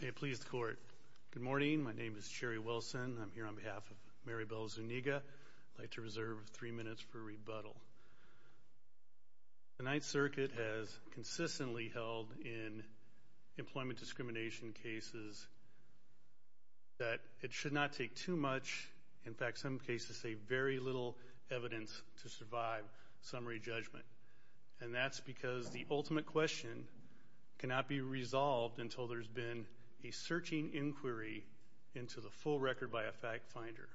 May it please the Court. Good morning. My name is Cherry Wilson. I'm here on behalf of Mary Bell Zuniga. I'd like to reserve three minutes for rebuttal. The Ninth Circuit has consistently held in employment discrimination cases that it should not take too much, in fact some cases say very little evidence to survive summary judgment. And that's because the ultimate question cannot be resolved until there's been a searching inquiry into the full record by a fact finder.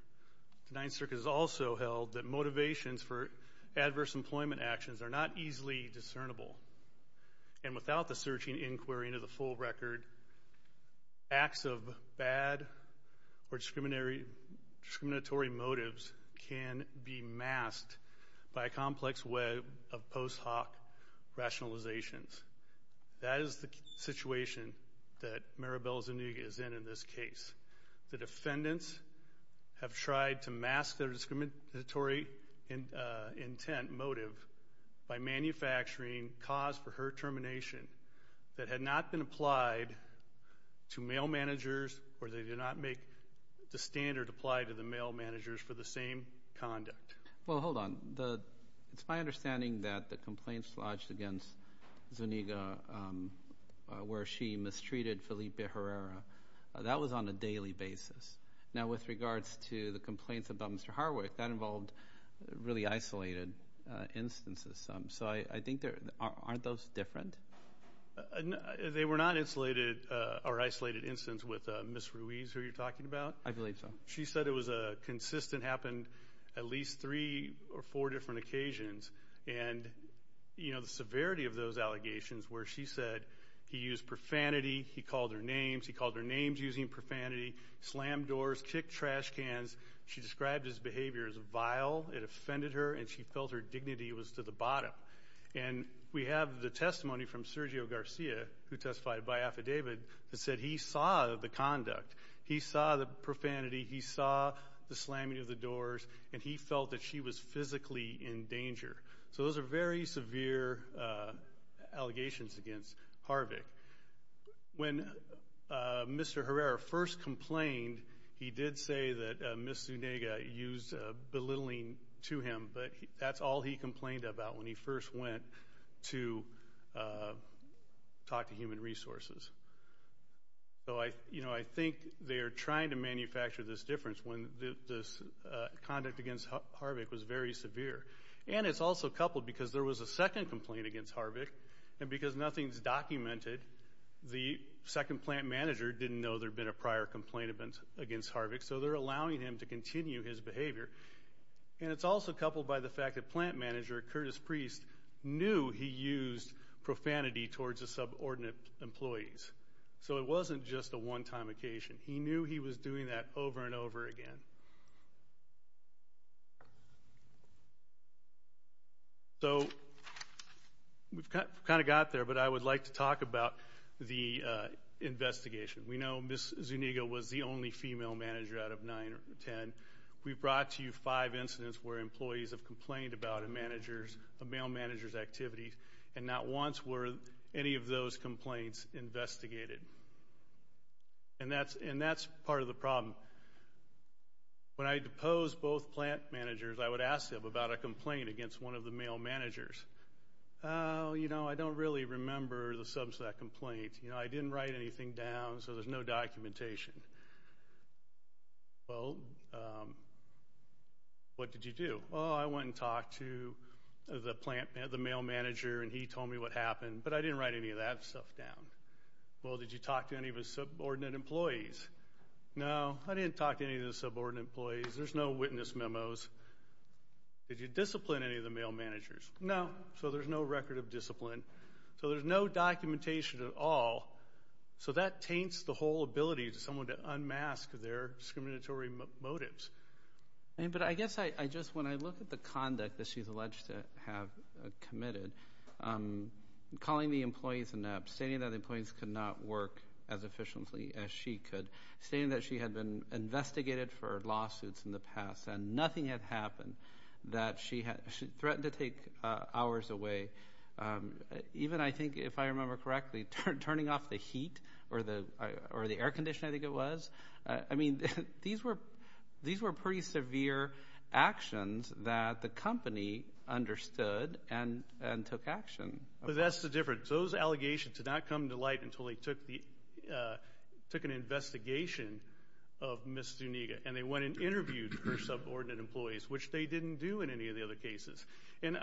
The Ninth Circuit has also held that motivations for adverse employment actions are not easily discernible. And without the searching inquiry into the full record, acts of bad or discriminatory motives can be masked by a complex web of post hoc rationalizations. That is the situation that Mary Bell Zuniga is in in this case. The defendants have tried to mask their discriminatory intent motive by manufacturing cause for her termination that had not been applied to male managers or they did not make the standard apply to the male managers for the same conduct. Well, hold on. It's my understanding that the complaints lodged against Zuniga where she mistreated Felipe Herrera, that was on a daily basis. Now with regards to the complaints about Mr. Harwick, that involved really isolated instances. So I think aren't those different? They were not isolated or isolated instance with Ms. Ruiz who you're talking about? I believe so. She said it was a consistent, happened at least three or four different occasions. And, you know, the severity of those allegations where she said he used profanity, he called her names, he called her names using profanity, slammed doors, kicked trash cans. She described his behavior as vile. It offended her and she felt her dignity was to the bottom. And we have the testimony from Sergio Garcia who testified by affidavit that said he saw the conduct. He saw the profanity, he saw the slamming of the doors, and he felt that she was physically in danger. So those are very severe allegations against Harwick. When Mr. Herrera first complained, he did say that Ms. Zuniga used belittling to him, but that's all he complained about when he first went to talk to Human Resources. So, you know, I think they're trying to manufacture this difference when this conduct against Harwick was very severe. And it's also coupled because there was a second complaint against Harwick, and because nothing's documented, the second plant manager didn't know there had been a prior complaint against Harwick, so they're allowing him to continue his behavior. And it's also coupled by the fact that plant manager Curtis Priest knew he used profanity towards the subordinate employees. So it wasn't just a one-time occasion. He knew he was doing that over and over again. So we've kind of got there, but I would like to talk about the investigation. We know Ms. Zuniga was the only female manager out of nine or ten. We brought to you five incidents where employees have complained about a male manager's activities, and not once were any of those complaints investigated. And that's part of the problem. When I deposed both plant managers, I would ask them about a complaint against one of the male managers. Oh, you know, I don't really remember the substance of that complaint. You know, I didn't write anything down, so there's no documentation. Well, what did you do? Oh, I went and talked to the plant manager, the male manager, and he told me what happened, but I didn't write any of that stuff down. Well, did you talk to any of the subordinate employees? No, I didn't talk to any of the subordinate employees. There's no witness memos. Did you discipline any of the male managers? No, so there's no record of discipline. So there's no documentation at all. So that taints the whole ability to someone to unmask their discriminatory motives. But I guess I just, when I look at the conduct that she's alleged to have committed, calling the employees inept, stating that the employees could not work as efficiently as she could, stating that she had been investigated for lawsuits in the past and nothing had happened, that she threatened to take hours away, even, I think, if I remember correctly, turning off the heat or the air conditioning, I think it was. I mean, these were pretty severe actions that the company understood and took action. But that's the difference. Those allegations did not come to light until they took an investigation of Ms. Duniga, and they went and interviewed her subordinate employees, which they didn't do in any of the other cases. And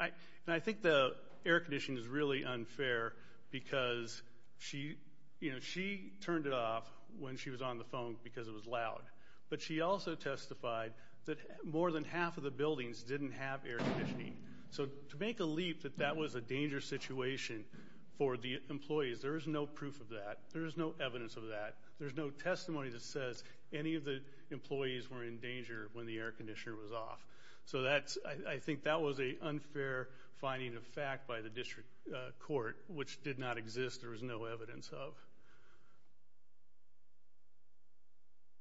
I think the air conditioning is really unfair because, you know, she turned it off when she was on the phone because it was loud. But she also testified that more than half of the buildings didn't have air conditioning. So to make a leap that that was a dangerous situation for the employees, there is no proof of that. There is no evidence of that. There's no testimony that says any of the employees were in danger when the air conditioner was off. So I think that was an unfair finding of fact by the district court, which did not exist. There was no evidence of.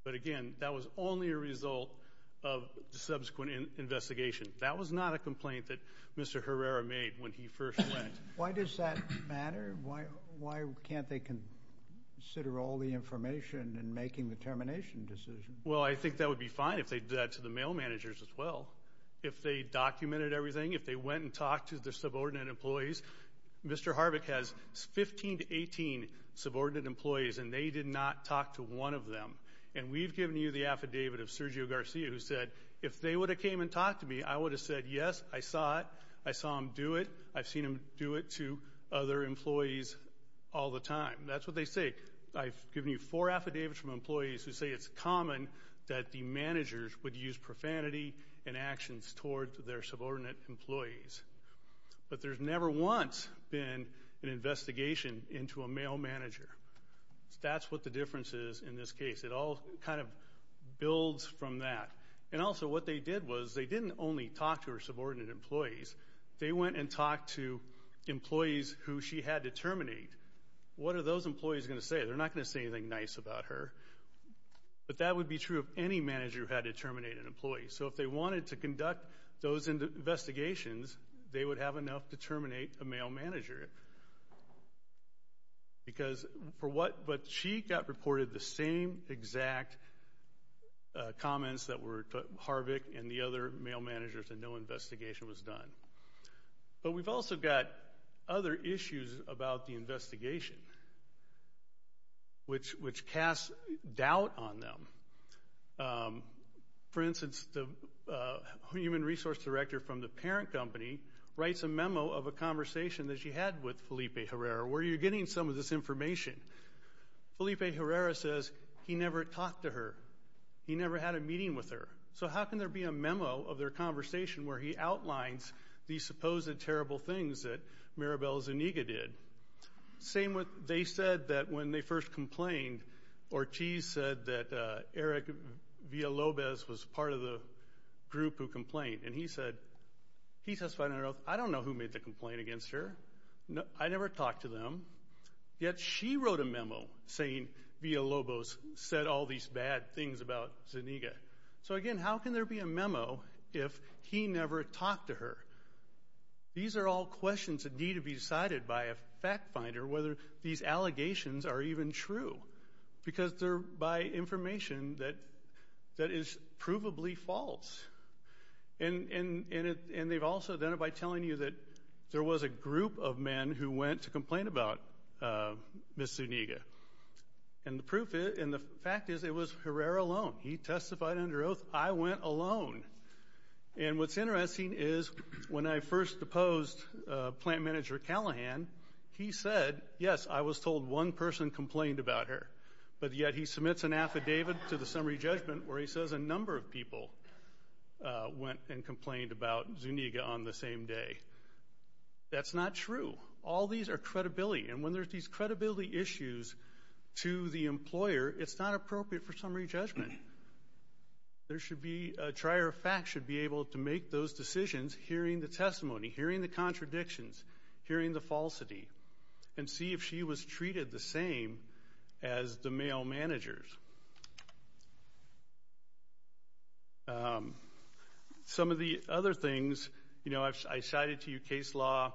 But, again, that was only a result of the subsequent investigation. That was not a complaint that Mr. Herrera made when he first went. Why does that matter? Why can't they consider all the information in making the termination decision? Well, I think that would be fine if they did that to the mail managers as well. If they documented everything, if they went and talked to their subordinate employees. Mr. Harvick has 15 to 18 subordinate employees, and they did not talk to one of them. And we've given you the affidavit of Sergio Garcia who said, if they would have came and talked to me, I would have said, yes, I saw it. I saw him do it. I've seen him do it to other employees all the time. That's what they say. I've given you four affidavits from employees who say it's common that the managers would use profanity and actions towards their subordinate employees. But there's never once been an investigation into a mail manager. That's what the difference is in this case. It all kind of builds from that. And also what they did was they didn't only talk to her subordinate employees. They went and talked to employees who she had to terminate. What are those employees going to say? They're not going to say anything nice about her. But that would be true if any manager had to terminate an employee. So if they wanted to conduct those investigations, they would have enough to terminate a mail manager. But she got reported the same exact comments that Harvick and the other mail managers and no investigation was done. But we've also got other issues about the investigation which casts doubt on them. For instance, the human resource director from the parent company writes a memo of a conversation that she had with Felipe Herrera where you're getting some of this information. Felipe Herrera says he never talked to her. He never had a meeting with her. So how can there be a memo of their conversation where he outlines these supposed terrible things that Maribel Zuniga did? They said that when they first complained, Ortiz said that Eric Villalobos was part of the group who complained. And he said, I don't know who made the complaint against her. I never talked to them. Yet she wrote a memo saying Villalobos said all these bad things about Zuniga. So, again, how can there be a memo if he never talked to her? These are all questions that need to be decided by a fact finder whether these allegations are even true because they're by information that is provably false. And they've also done it by telling you that there was a group of men who went to complain about Ms. Zuniga. And the fact is it was Herrera alone. He testified under oath. I went alone. And what's interesting is when I first deposed plant manager Callahan, he said, yes, I was told one person complained about her. But yet he submits an affidavit to the summary judgment where he says a number of people went and complained about Zuniga on the same day. That's not true. All these are credibility. And when there's these credibility issues to the employer, it's not appropriate for summary judgment. There should be a trier of facts should be able to make those decisions hearing the testimony, hearing the contradictions, hearing the falsity, and see if she was treated the same as the male managers. Some of the other things, you know, I cited to you case law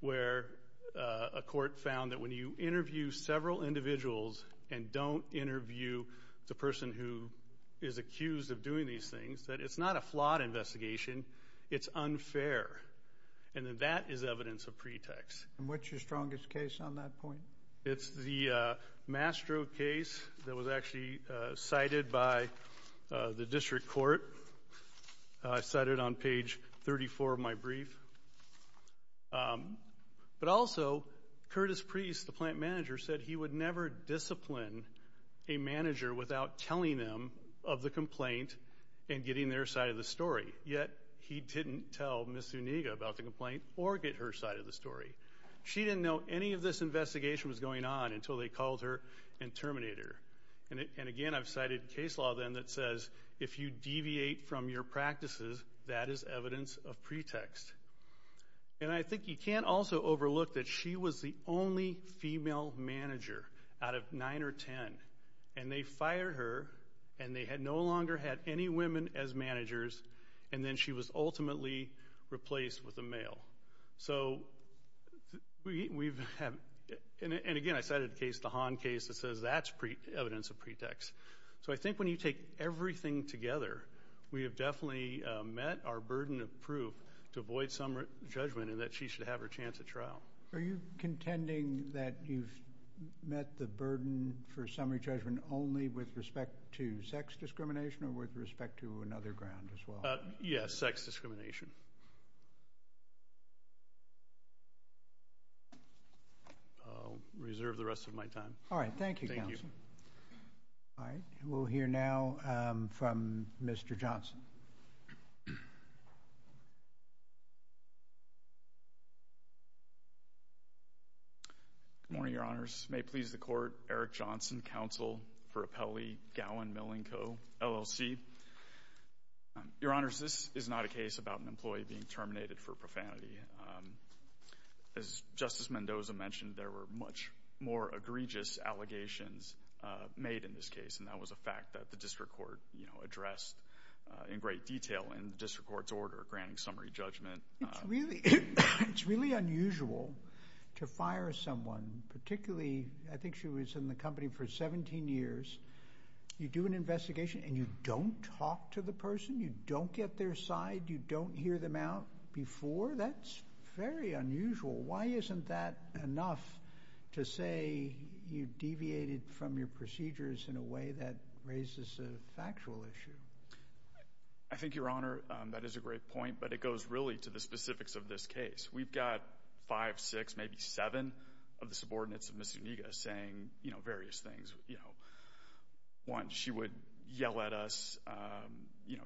where a court found that when you interview several individuals and don't interview the person who is accused of doing these things, that it's not a flawed investigation. It's unfair. And that is evidence of pretext. And what's your strongest case on that point? It's the Mastro case that was actually cited by the district court. I cite it on page 34 of my brief. But also, Curtis Priest, the plant manager, said he would never discipline a manager without telling them of the complaint and getting their side of the story. Yet he didn't tell Ms. Zuniga about the complaint or get her side of the story. She didn't know any of this investigation was going on until they called her and terminated her. And again, I've cited case law then that says if you deviate from your practices, that is evidence of pretext. And I think you can't also overlook that she was the only female manager out of nine or ten. And they fired her, and they had no longer had any women as managers, and then she was ultimately replaced with a male. So we've had – and again, I cited the case, the Hahn case, that says that's evidence of pretext. So I think when you take everything together, we have definitely met our burden of proof to avoid summary judgment and that she should have her chance at trial. Are you contending that you've met the burden for summary judgment only with respect to sex discrimination or with respect to another ground as well? Yes, sex discrimination. I'll reserve the rest of my time. All right. Thank you, Counsel. Thank you. All right. We'll hear now from Mr. Johnson. Good morning, Your Honors. May it please the Court, Eric Johnson, Counsel for Appellee Gowan-Millingco, LLC. Your Honors, this is not a case about an employee being terminated for profanity. As Justice Mendoza mentioned, there were much more egregious allegations made in this case, and that was a fact that the district court addressed in great detail in the district court's order granting summary judgment. It's really unusual to fire someone, particularly I think she was in the company for 17 years. You do an investigation and you don't talk to the person. You don't get their side. You don't hear them out before. That's very unusual. Why isn't that enough to say you deviated from your procedures in a way that raises a factual issue? I think, Your Honor, that is a great point, but it goes really to the specifics of this case. We've got five, six, maybe seven of the subordinates of Ms. Zuniga saying various things. One, she would yell at us.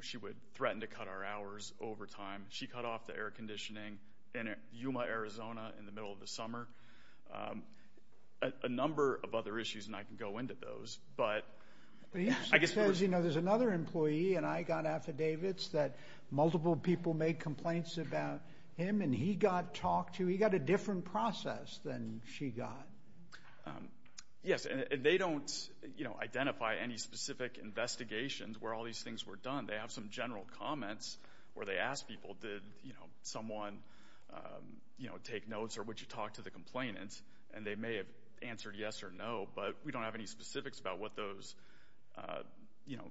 She would threaten to cut our hours over time. She cut off the air conditioning in Yuma, Arizona, in the middle of the summer. A number of other issues, and I can go into those. There's another employee, and I got affidavits that multiple people made complaints about him, and he got talked to. He got a different process than she got. Yes, and they don't identify any specific investigations where all these things were done. They have some general comments where they ask people, did someone take notes or would you talk to the complainant? And they may have answered yes or no, but we don't have any specifics about what those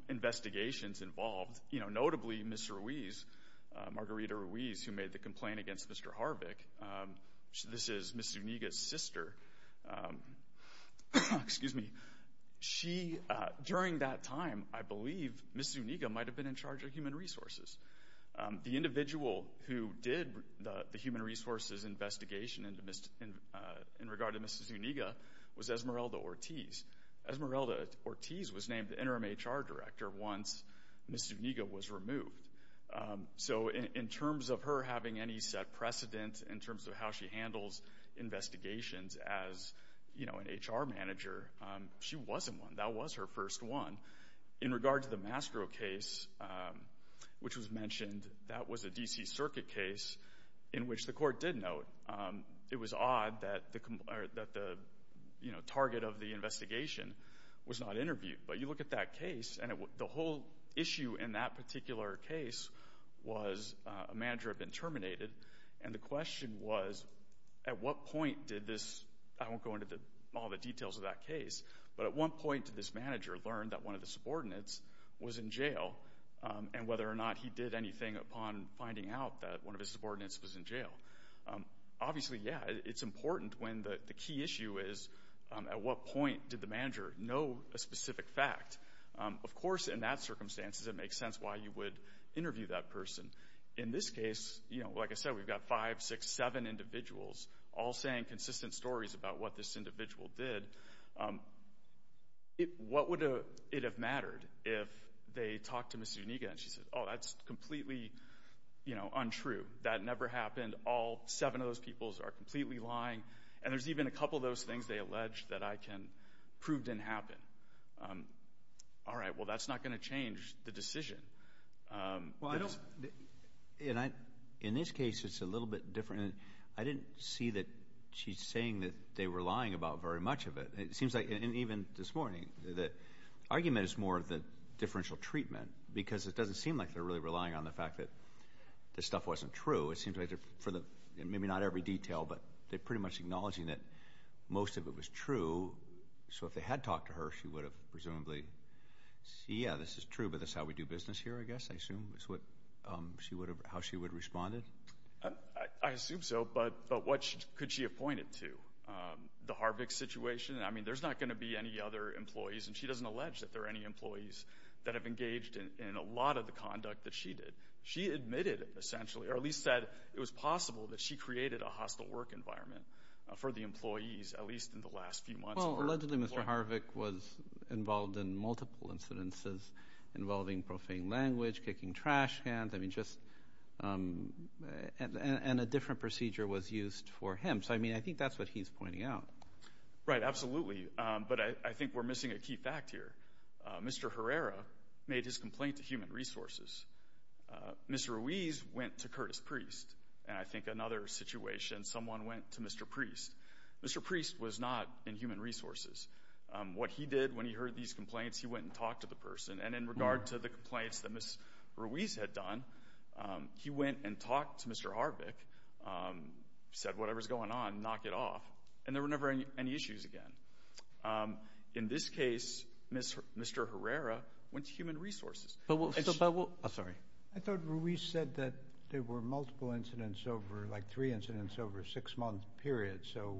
investigations involved. Notably, Ms. Ruiz, Margarita Ruiz, who made the complaint against Mr. Harvick, this is Ms. Zuniga's sister. During that time, I believe Ms. Zuniga might have been in charge of human resources. The individual who did the human resources investigation in regard to Ms. Zuniga was Esmeralda Ortiz. Esmeralda Ortiz was named the interim HR director once Ms. Zuniga was removed. So in terms of her having any set precedent in terms of how she handles investigations as an HR manager, she wasn't one. That was her first one. In regard to the Mastro case, which was mentioned, that was a D.C. Circuit case in which the court did note. It was odd that the target of the investigation was not interviewed. But you look at that case, and the whole issue in that particular case was a manager had been terminated, and the question was at what point did this—I won't go into all the details of that case— but at what point did this manager learn that one of the subordinates was in jail, and whether or not he did anything upon finding out that one of his subordinates was in jail. Obviously, yeah, it's important when the key issue is at what point did the manager know a specific fact. Of course, in that circumstances, it makes sense why you would interview that person. In this case, like I said, we've got five, six, seven individuals all saying consistent stories about what this individual did. What would it have mattered if they talked to Ms. Zuniga and she said, oh, that's completely untrue. That never happened. All seven of those peoples are completely lying, and there's even a couple of those things they allege that I can prove didn't happen. All right, well, that's not going to change the decision. Well, I don't—in this case, it's a little bit different. I didn't see that she's saying that they were lying about very much of it. It seems like—and even this morning, the argument is more of the differential treatment because it doesn't seem like they're really relying on the fact that this stuff wasn't true. It seems like for the—maybe not every detail, but they're pretty much acknowledging that most of it was true. So if they had talked to her, she would have presumably—yeah, this is true, but this is how we do business here, I guess, I assume, is what she would have—how she would have responded? I assume so, but what could she have pointed to? The Harvick situation? I mean, there's not going to be any other employees, and she doesn't allege that there are any employees that have engaged in a lot of the conduct that she did. She admitted, essentially, or at least said it was possible that she created a hostile work environment for the employees, at least in the last few months. Well, allegedly, Mr. Harvick was involved in multiple incidences involving profane language, kicking trash cans. I mean, just—and a different procedure was used for him. So, I mean, I think that's what he's pointing out. Right, absolutely, but I think we're missing a key fact here. Mr. Herrera made his complaint to Human Resources. Ms. Ruiz went to Curtis Priest, and I think another situation, someone went to Mr. Priest. Mr. Priest was not in Human Resources. What he did when he heard these complaints, he went and talked to the person. And in regard to the complaints that Ms. Ruiz had done, he went and talked to Mr. Harvick, said, whatever's going on, knock it off, and there were never any issues again. In this case, Mr. Herrera went to Human Resources. But we'll— Oh, sorry. I thought Ruiz said that there were multiple incidents over, like three incidents over a six-month period, so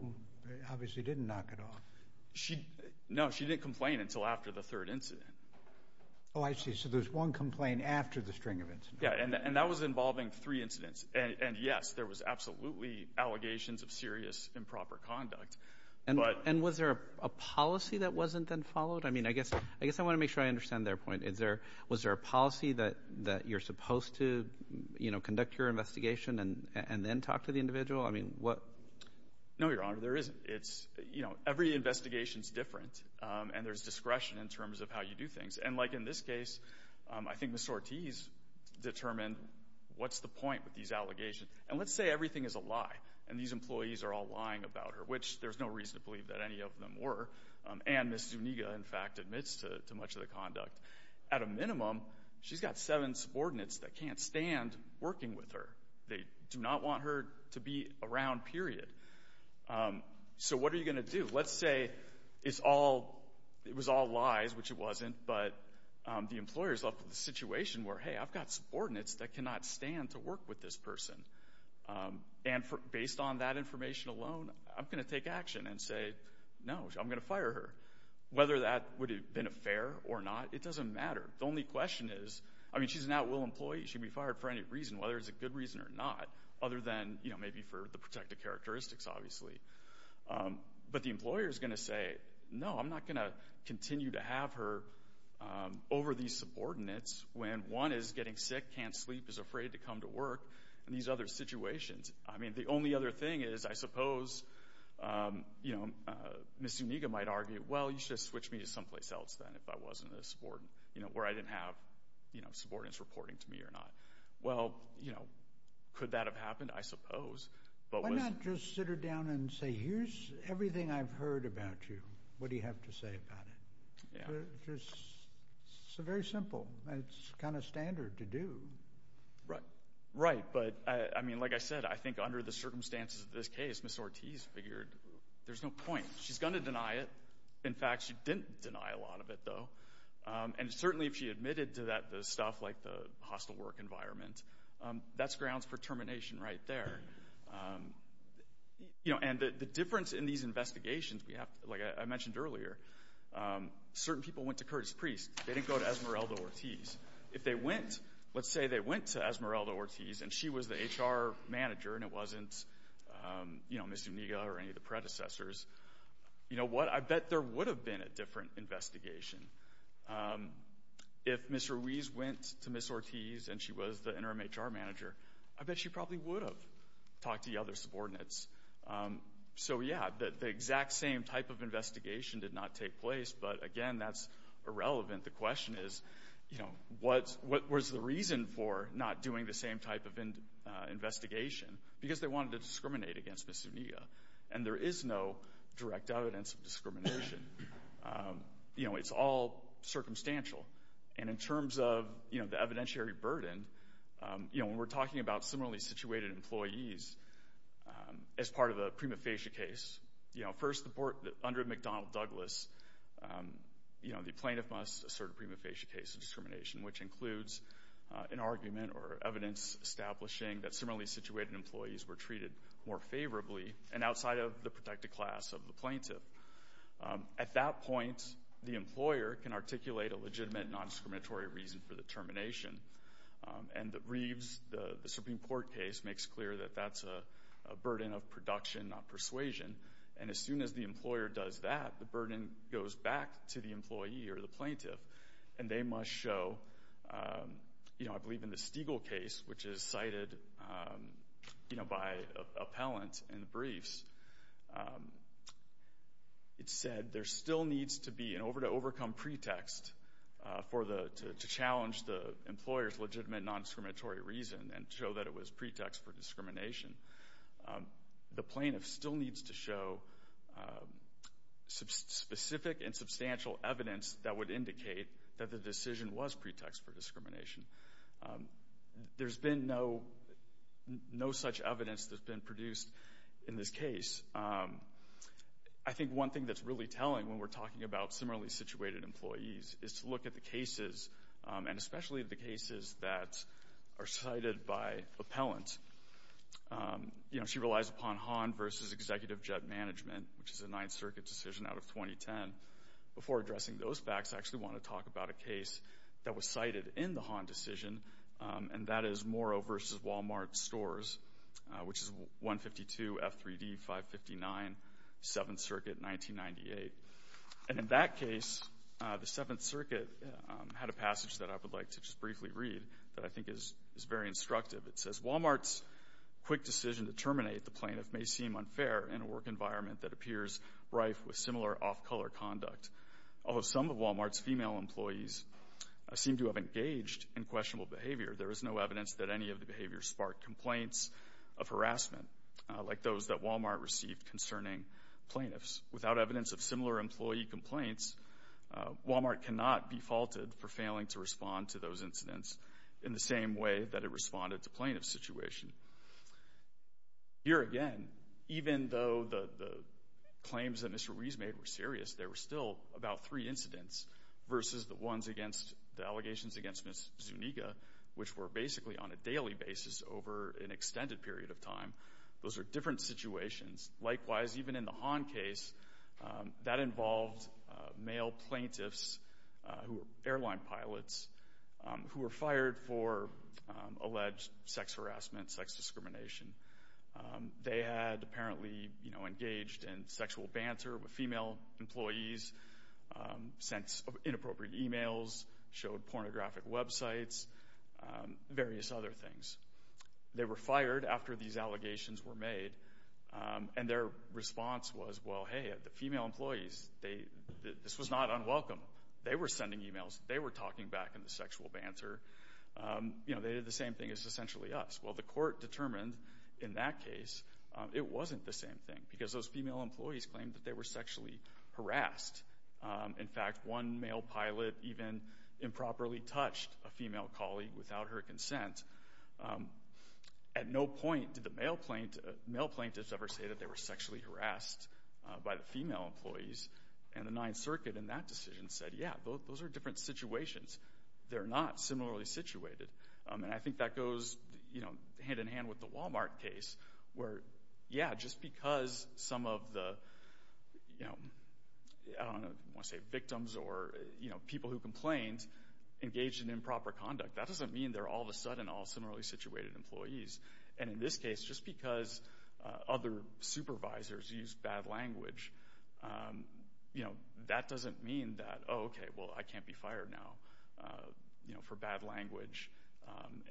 obviously didn't knock it off. No, she didn't complain until after the third incident. Oh, I see. So there's one complaint after the string of incidents. Yeah, and that was involving three incidents. And, yes, there was absolutely allegations of serious improper conduct. And was there a policy that wasn't then followed? I mean, I guess I want to make sure I understand their point. Was there a policy that you're supposed to, you know, conduct your investigation and then talk to the individual? I mean, what— No, Your Honor, there isn't. It's, you know, every investigation is different, and there's discretion in terms of how you do things. And like in this case, I think Ms. Ortiz determined what's the point with these allegations. And let's say everything is a lie, and these employees are all lying about her, which there's no reason to believe that any of them were. And Ms. Zuniga, in fact, admits to much of the conduct. At a minimum, she's got seven subordinates that can't stand working with her. They do not want her to be around, period. So what are you going to do? Let's say it's all—it was all lies, which it wasn't, but the employer's left with a situation where, hey, I've got subordinates that cannot stand to work with this person. And based on that information alone, I'm going to take action and say, no, I'm going to fire her. Whether that would have been fair or not, it doesn't matter. The only question is—I mean, she's an at-will employee. She can be fired for any reason, whether it's a good reason or not, other than, you know, maybe for the protected characteristics, obviously. But the employer's going to say, no, I'm not going to continue to have her over these subordinates when one is getting sick, can't sleep, is afraid to come to work, and these other situations. I mean, the only other thing is, I suppose, you know, Ms. Zuniga might argue, well, you should have switched me to someplace else then if I wasn't a subordinate, you know, where I didn't have, you know, subordinates reporting to me or not. Well, you know, could that have happened? I suppose. Why not just sit her down and say, here's everything I've heard about you. What do you have to say about it? It's very simple. It's kind of standard to do. Right. But, I mean, like I said, I think under the circumstances of this case, Ms. Ortiz figured there's no point. She's going to deny it. In fact, she didn't deny a lot of it, though. And certainly if she admitted to that, the stuff like the hostile work environment, that's grounds for termination right there. You know, and the difference in these investigations, like I mentioned earlier, certain people went to Curtis Priest. They didn't go to Esmeralda Ortiz. If they went, let's say they went to Esmeralda Ortiz and she was the HR manager and it wasn't, you know, Ms. Zuniga or any of the predecessors, you know what? I bet there would have been a different investigation. If Ms. Ruiz went to Ms. Ortiz and she was the interim HR manager, I bet she probably would have talked to the other subordinates. So, yeah, the exact same type of investigation did not take place. But, again, that's irrelevant. The question is, you know, what was the reason for not doing the same type of investigation? Because they wanted to discriminate against Ms. Zuniga. And there is no direct evidence of discrimination. You know, it's all circumstantial. And in terms of, you know, the evidentiary burden, you know, when we're talking about similarly situated employees as part of a prima facie case, you know, first under McDonnell Douglas, you know, the plaintiff must assert a prima facie case of discrimination, which includes an argument or evidence establishing that similarly situated employees were treated more favorably and outside of the protected class of the plaintiff. At that point, the employer can articulate a legitimate non-discriminatory reason for the termination. And the Reeves, the Supreme Court case, makes clear that that's a burden of production, not persuasion. And as soon as the employer does that, the burden goes back to the employee or the plaintiff. And they must show, you know, I believe in the Stiegel case, which is cited, you know, by appellant in the briefs, it said there still needs to be an over-to-overcome pretext to challenge the employer's legitimate non-discriminatory reason and show that it was pretext for discrimination. The plaintiff still needs to show specific and substantial evidence that would indicate that the decision was pretext for discrimination. There's been no such evidence that's been produced in this case. I think one thing that's really telling when we're talking about similarly situated employees is to look at the cases, and especially the cases that are cited by appellants. You know, she relies upon Hahn v. Executive Jet Management, which is a Ninth Circuit decision out of 2010. Before addressing those facts, I actually want to talk about a case that was cited in the Hahn decision, and that is Morrow v. Walmart Stores, which is 152 F3D 559, Seventh Circuit, 1998. And in that case, the Seventh Circuit had a passage that I would like to just briefly read that I think is very instructive. It says, Walmart's quick decision to terminate the plaintiff may seem unfair in a work environment that appears rife with similar off-color conduct. Although some of Walmart's female employees seem to have engaged in questionable behavior, there is no evidence that any of the behaviors sparked complaints of harassment, like those that Walmart received concerning plaintiffs. Without evidence of similar employee complaints, Walmart cannot be faulted for failing to respond to those incidents in the same way that it responded to plaintiff's situation. Here again, even though the claims that Mr. Ruiz made were serious, there were still about three incidents versus the ones against the allegations against Ms. Zuniga, which were basically on a daily basis over an extended period of time. Those are different situations. Likewise, even in the Hahn case, that involved male plaintiffs who were airline pilots who were fired for alleged sex harassment, sex discrimination. They had apparently engaged in sexual banter with female employees, sent inappropriate emails, showed pornographic websites, various other things. They were fired after these allegations were made, and their response was, well, hey, the female employees, this was not unwelcome. They were sending emails. They were talking back in the sexual banter. They did the same thing as essentially us. Well, the court determined in that case it wasn't the same thing because those female employees claimed that they were sexually harassed. In fact, one male pilot even improperly touched a female colleague without her consent. At no point did the male plaintiffs ever say that they were sexually harassed by the female employees, and the Ninth Circuit in that decision said, yeah, those are different situations. They're not similarly situated. And I think that goes hand-in-hand with the Walmart case where, yeah, just because some of the victims or people who complained engaged in improper conduct, that doesn't mean they're all of a sudden all similarly situated employees. And in this case, just because other supervisors used bad language, that doesn't mean that, oh, okay, well, I can't be fired now for bad language.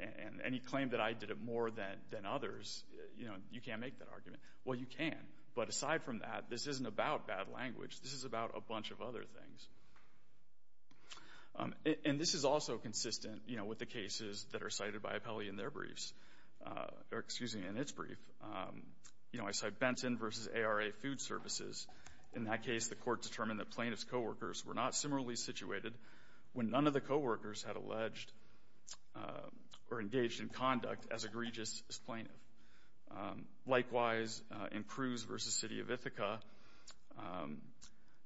And any claim that I did it more than others, you can't make that argument. Well, you can, but aside from that, this isn't about bad language. This is about a bunch of other things. And this is also consistent with the cases that are cited by Appelli in their briefs, or excuse me, in its brief. You know, I cite Benton v. ARA Food Services. In that case, the court determined that plaintiff's coworkers were not similarly situated when none of the coworkers had alleged or engaged in conduct as egregious as plaintiff. Likewise, in Cruz v. City of Ithaca,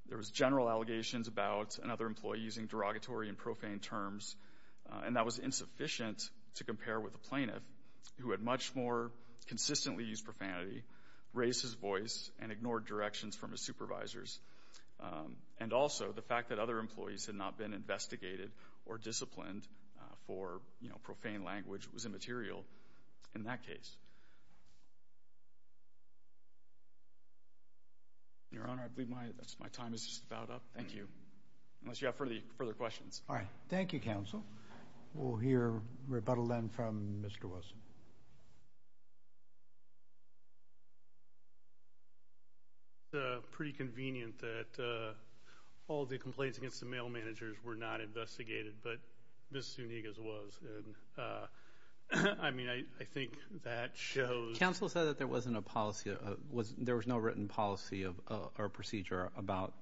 there was general allegations about another employee using derogatory and profane terms, and that was insufficient to compare with a plaintiff who had much more consistently used profanity, raised his voice, and ignored directions from his supervisors. And also, the fact that other employees had not been investigated or disciplined for, you know, profane language was immaterial in that case. Your Honor, I believe my time is just about up. Thank you. Unless you have further questions. All right. Thank you, counsel. We'll hear rebuttal then from Mr. Wesson. It's pretty convenient that all the complaints against the mail managers were not investigated, but Ms. Zuniga's was. I mean, I think that shows. Counsel said that there wasn't a policy, there was no written policy or procedure about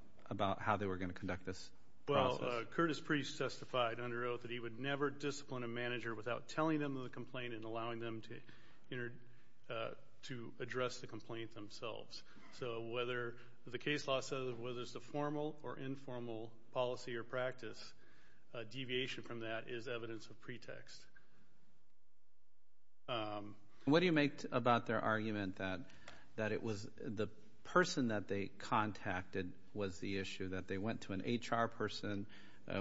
how they were going to conduct this process. Well, Curtis Priest testified under oath that he would never discipline a manager without telling them the complaint and allowing them to address the complaint themselves. So whether the case law says whether it's a formal or informal policy or practice, deviation from that is evidence of pretext. What do you make about their argument that it was the person that they contacted was the issue, that they went to an HR person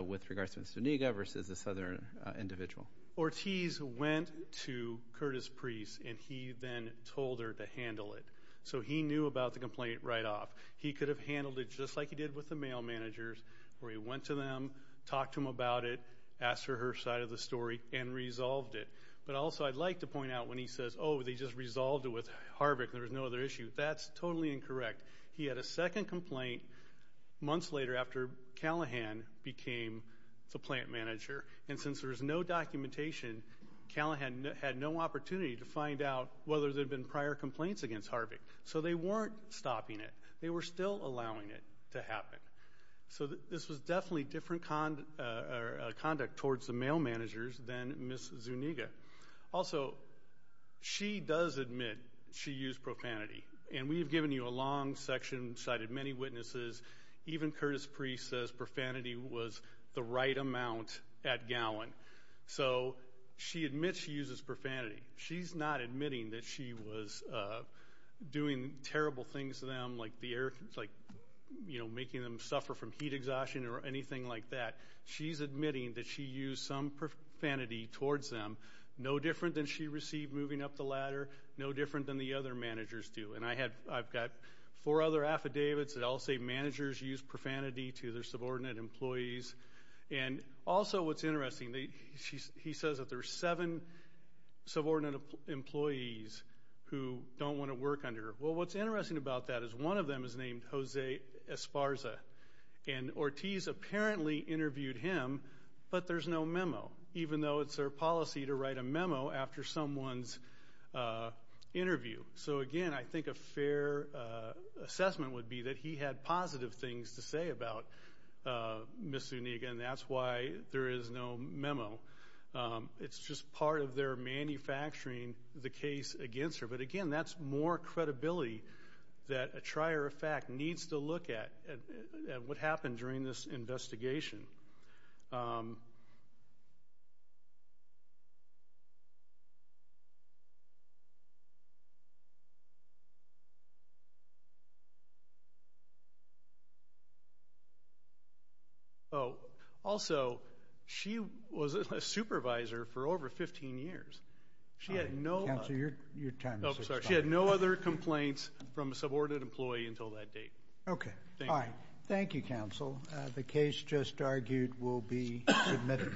with regards to Ms. Zuniga versus this other individual? Ortiz went to Curtis Priest, and he then told her to handle it. So he knew about the complaint right off. He could have handled it just like he did with the mail managers, where he went to them, talked to them about it, asked for her side of the story, and resolved it. But also I'd like to point out when he says, oh, they just resolved it with Harvick and there was no other issue, that's totally incorrect. He had a second complaint months later after Callahan became the plant manager. And since there was no documentation, Callahan had no opportunity to find out whether there had been prior complaints against Harvick. So they weren't stopping it. They were still allowing it to happen. So this was definitely different conduct towards the mail managers than Ms. Zuniga. Also, she does admit she used profanity. And we have given you a long section, cited many witnesses. Even Curtis Priest says profanity was the right amount at Gowan. So she admits she uses profanity. She's not admitting that she was doing terrible things to them, like making them suffer from heat exhaustion or anything like that. She's admitting that she used some profanity towards them, no different than she received moving up the ladder, no different than the other managers do. And I've got four other affidavits that all say managers use profanity to their subordinate employees. And also what's interesting, he says that there are seven subordinate employees who don't want to work under her. Well, what's interesting about that is one of them is named Jose Esparza. And Ortiz apparently interviewed him, but there's no memo, even though it's their policy to write a memo after someone's interview. So, again, I think a fair assessment would be that he had positive things to say about Ms. Zuniga, and that's why there is no memo. It's just part of their manufacturing the case against her. But, again, that's more credibility that a trier of fact needs to look at what happened during this investigation. Also, she was a supervisor for over 15 years. Counsel, your time is up. She had no other complaints from a subordinate employee until that date. Okay. Thank you. All right. Thank you, Counsel. The case just argued will be submitted.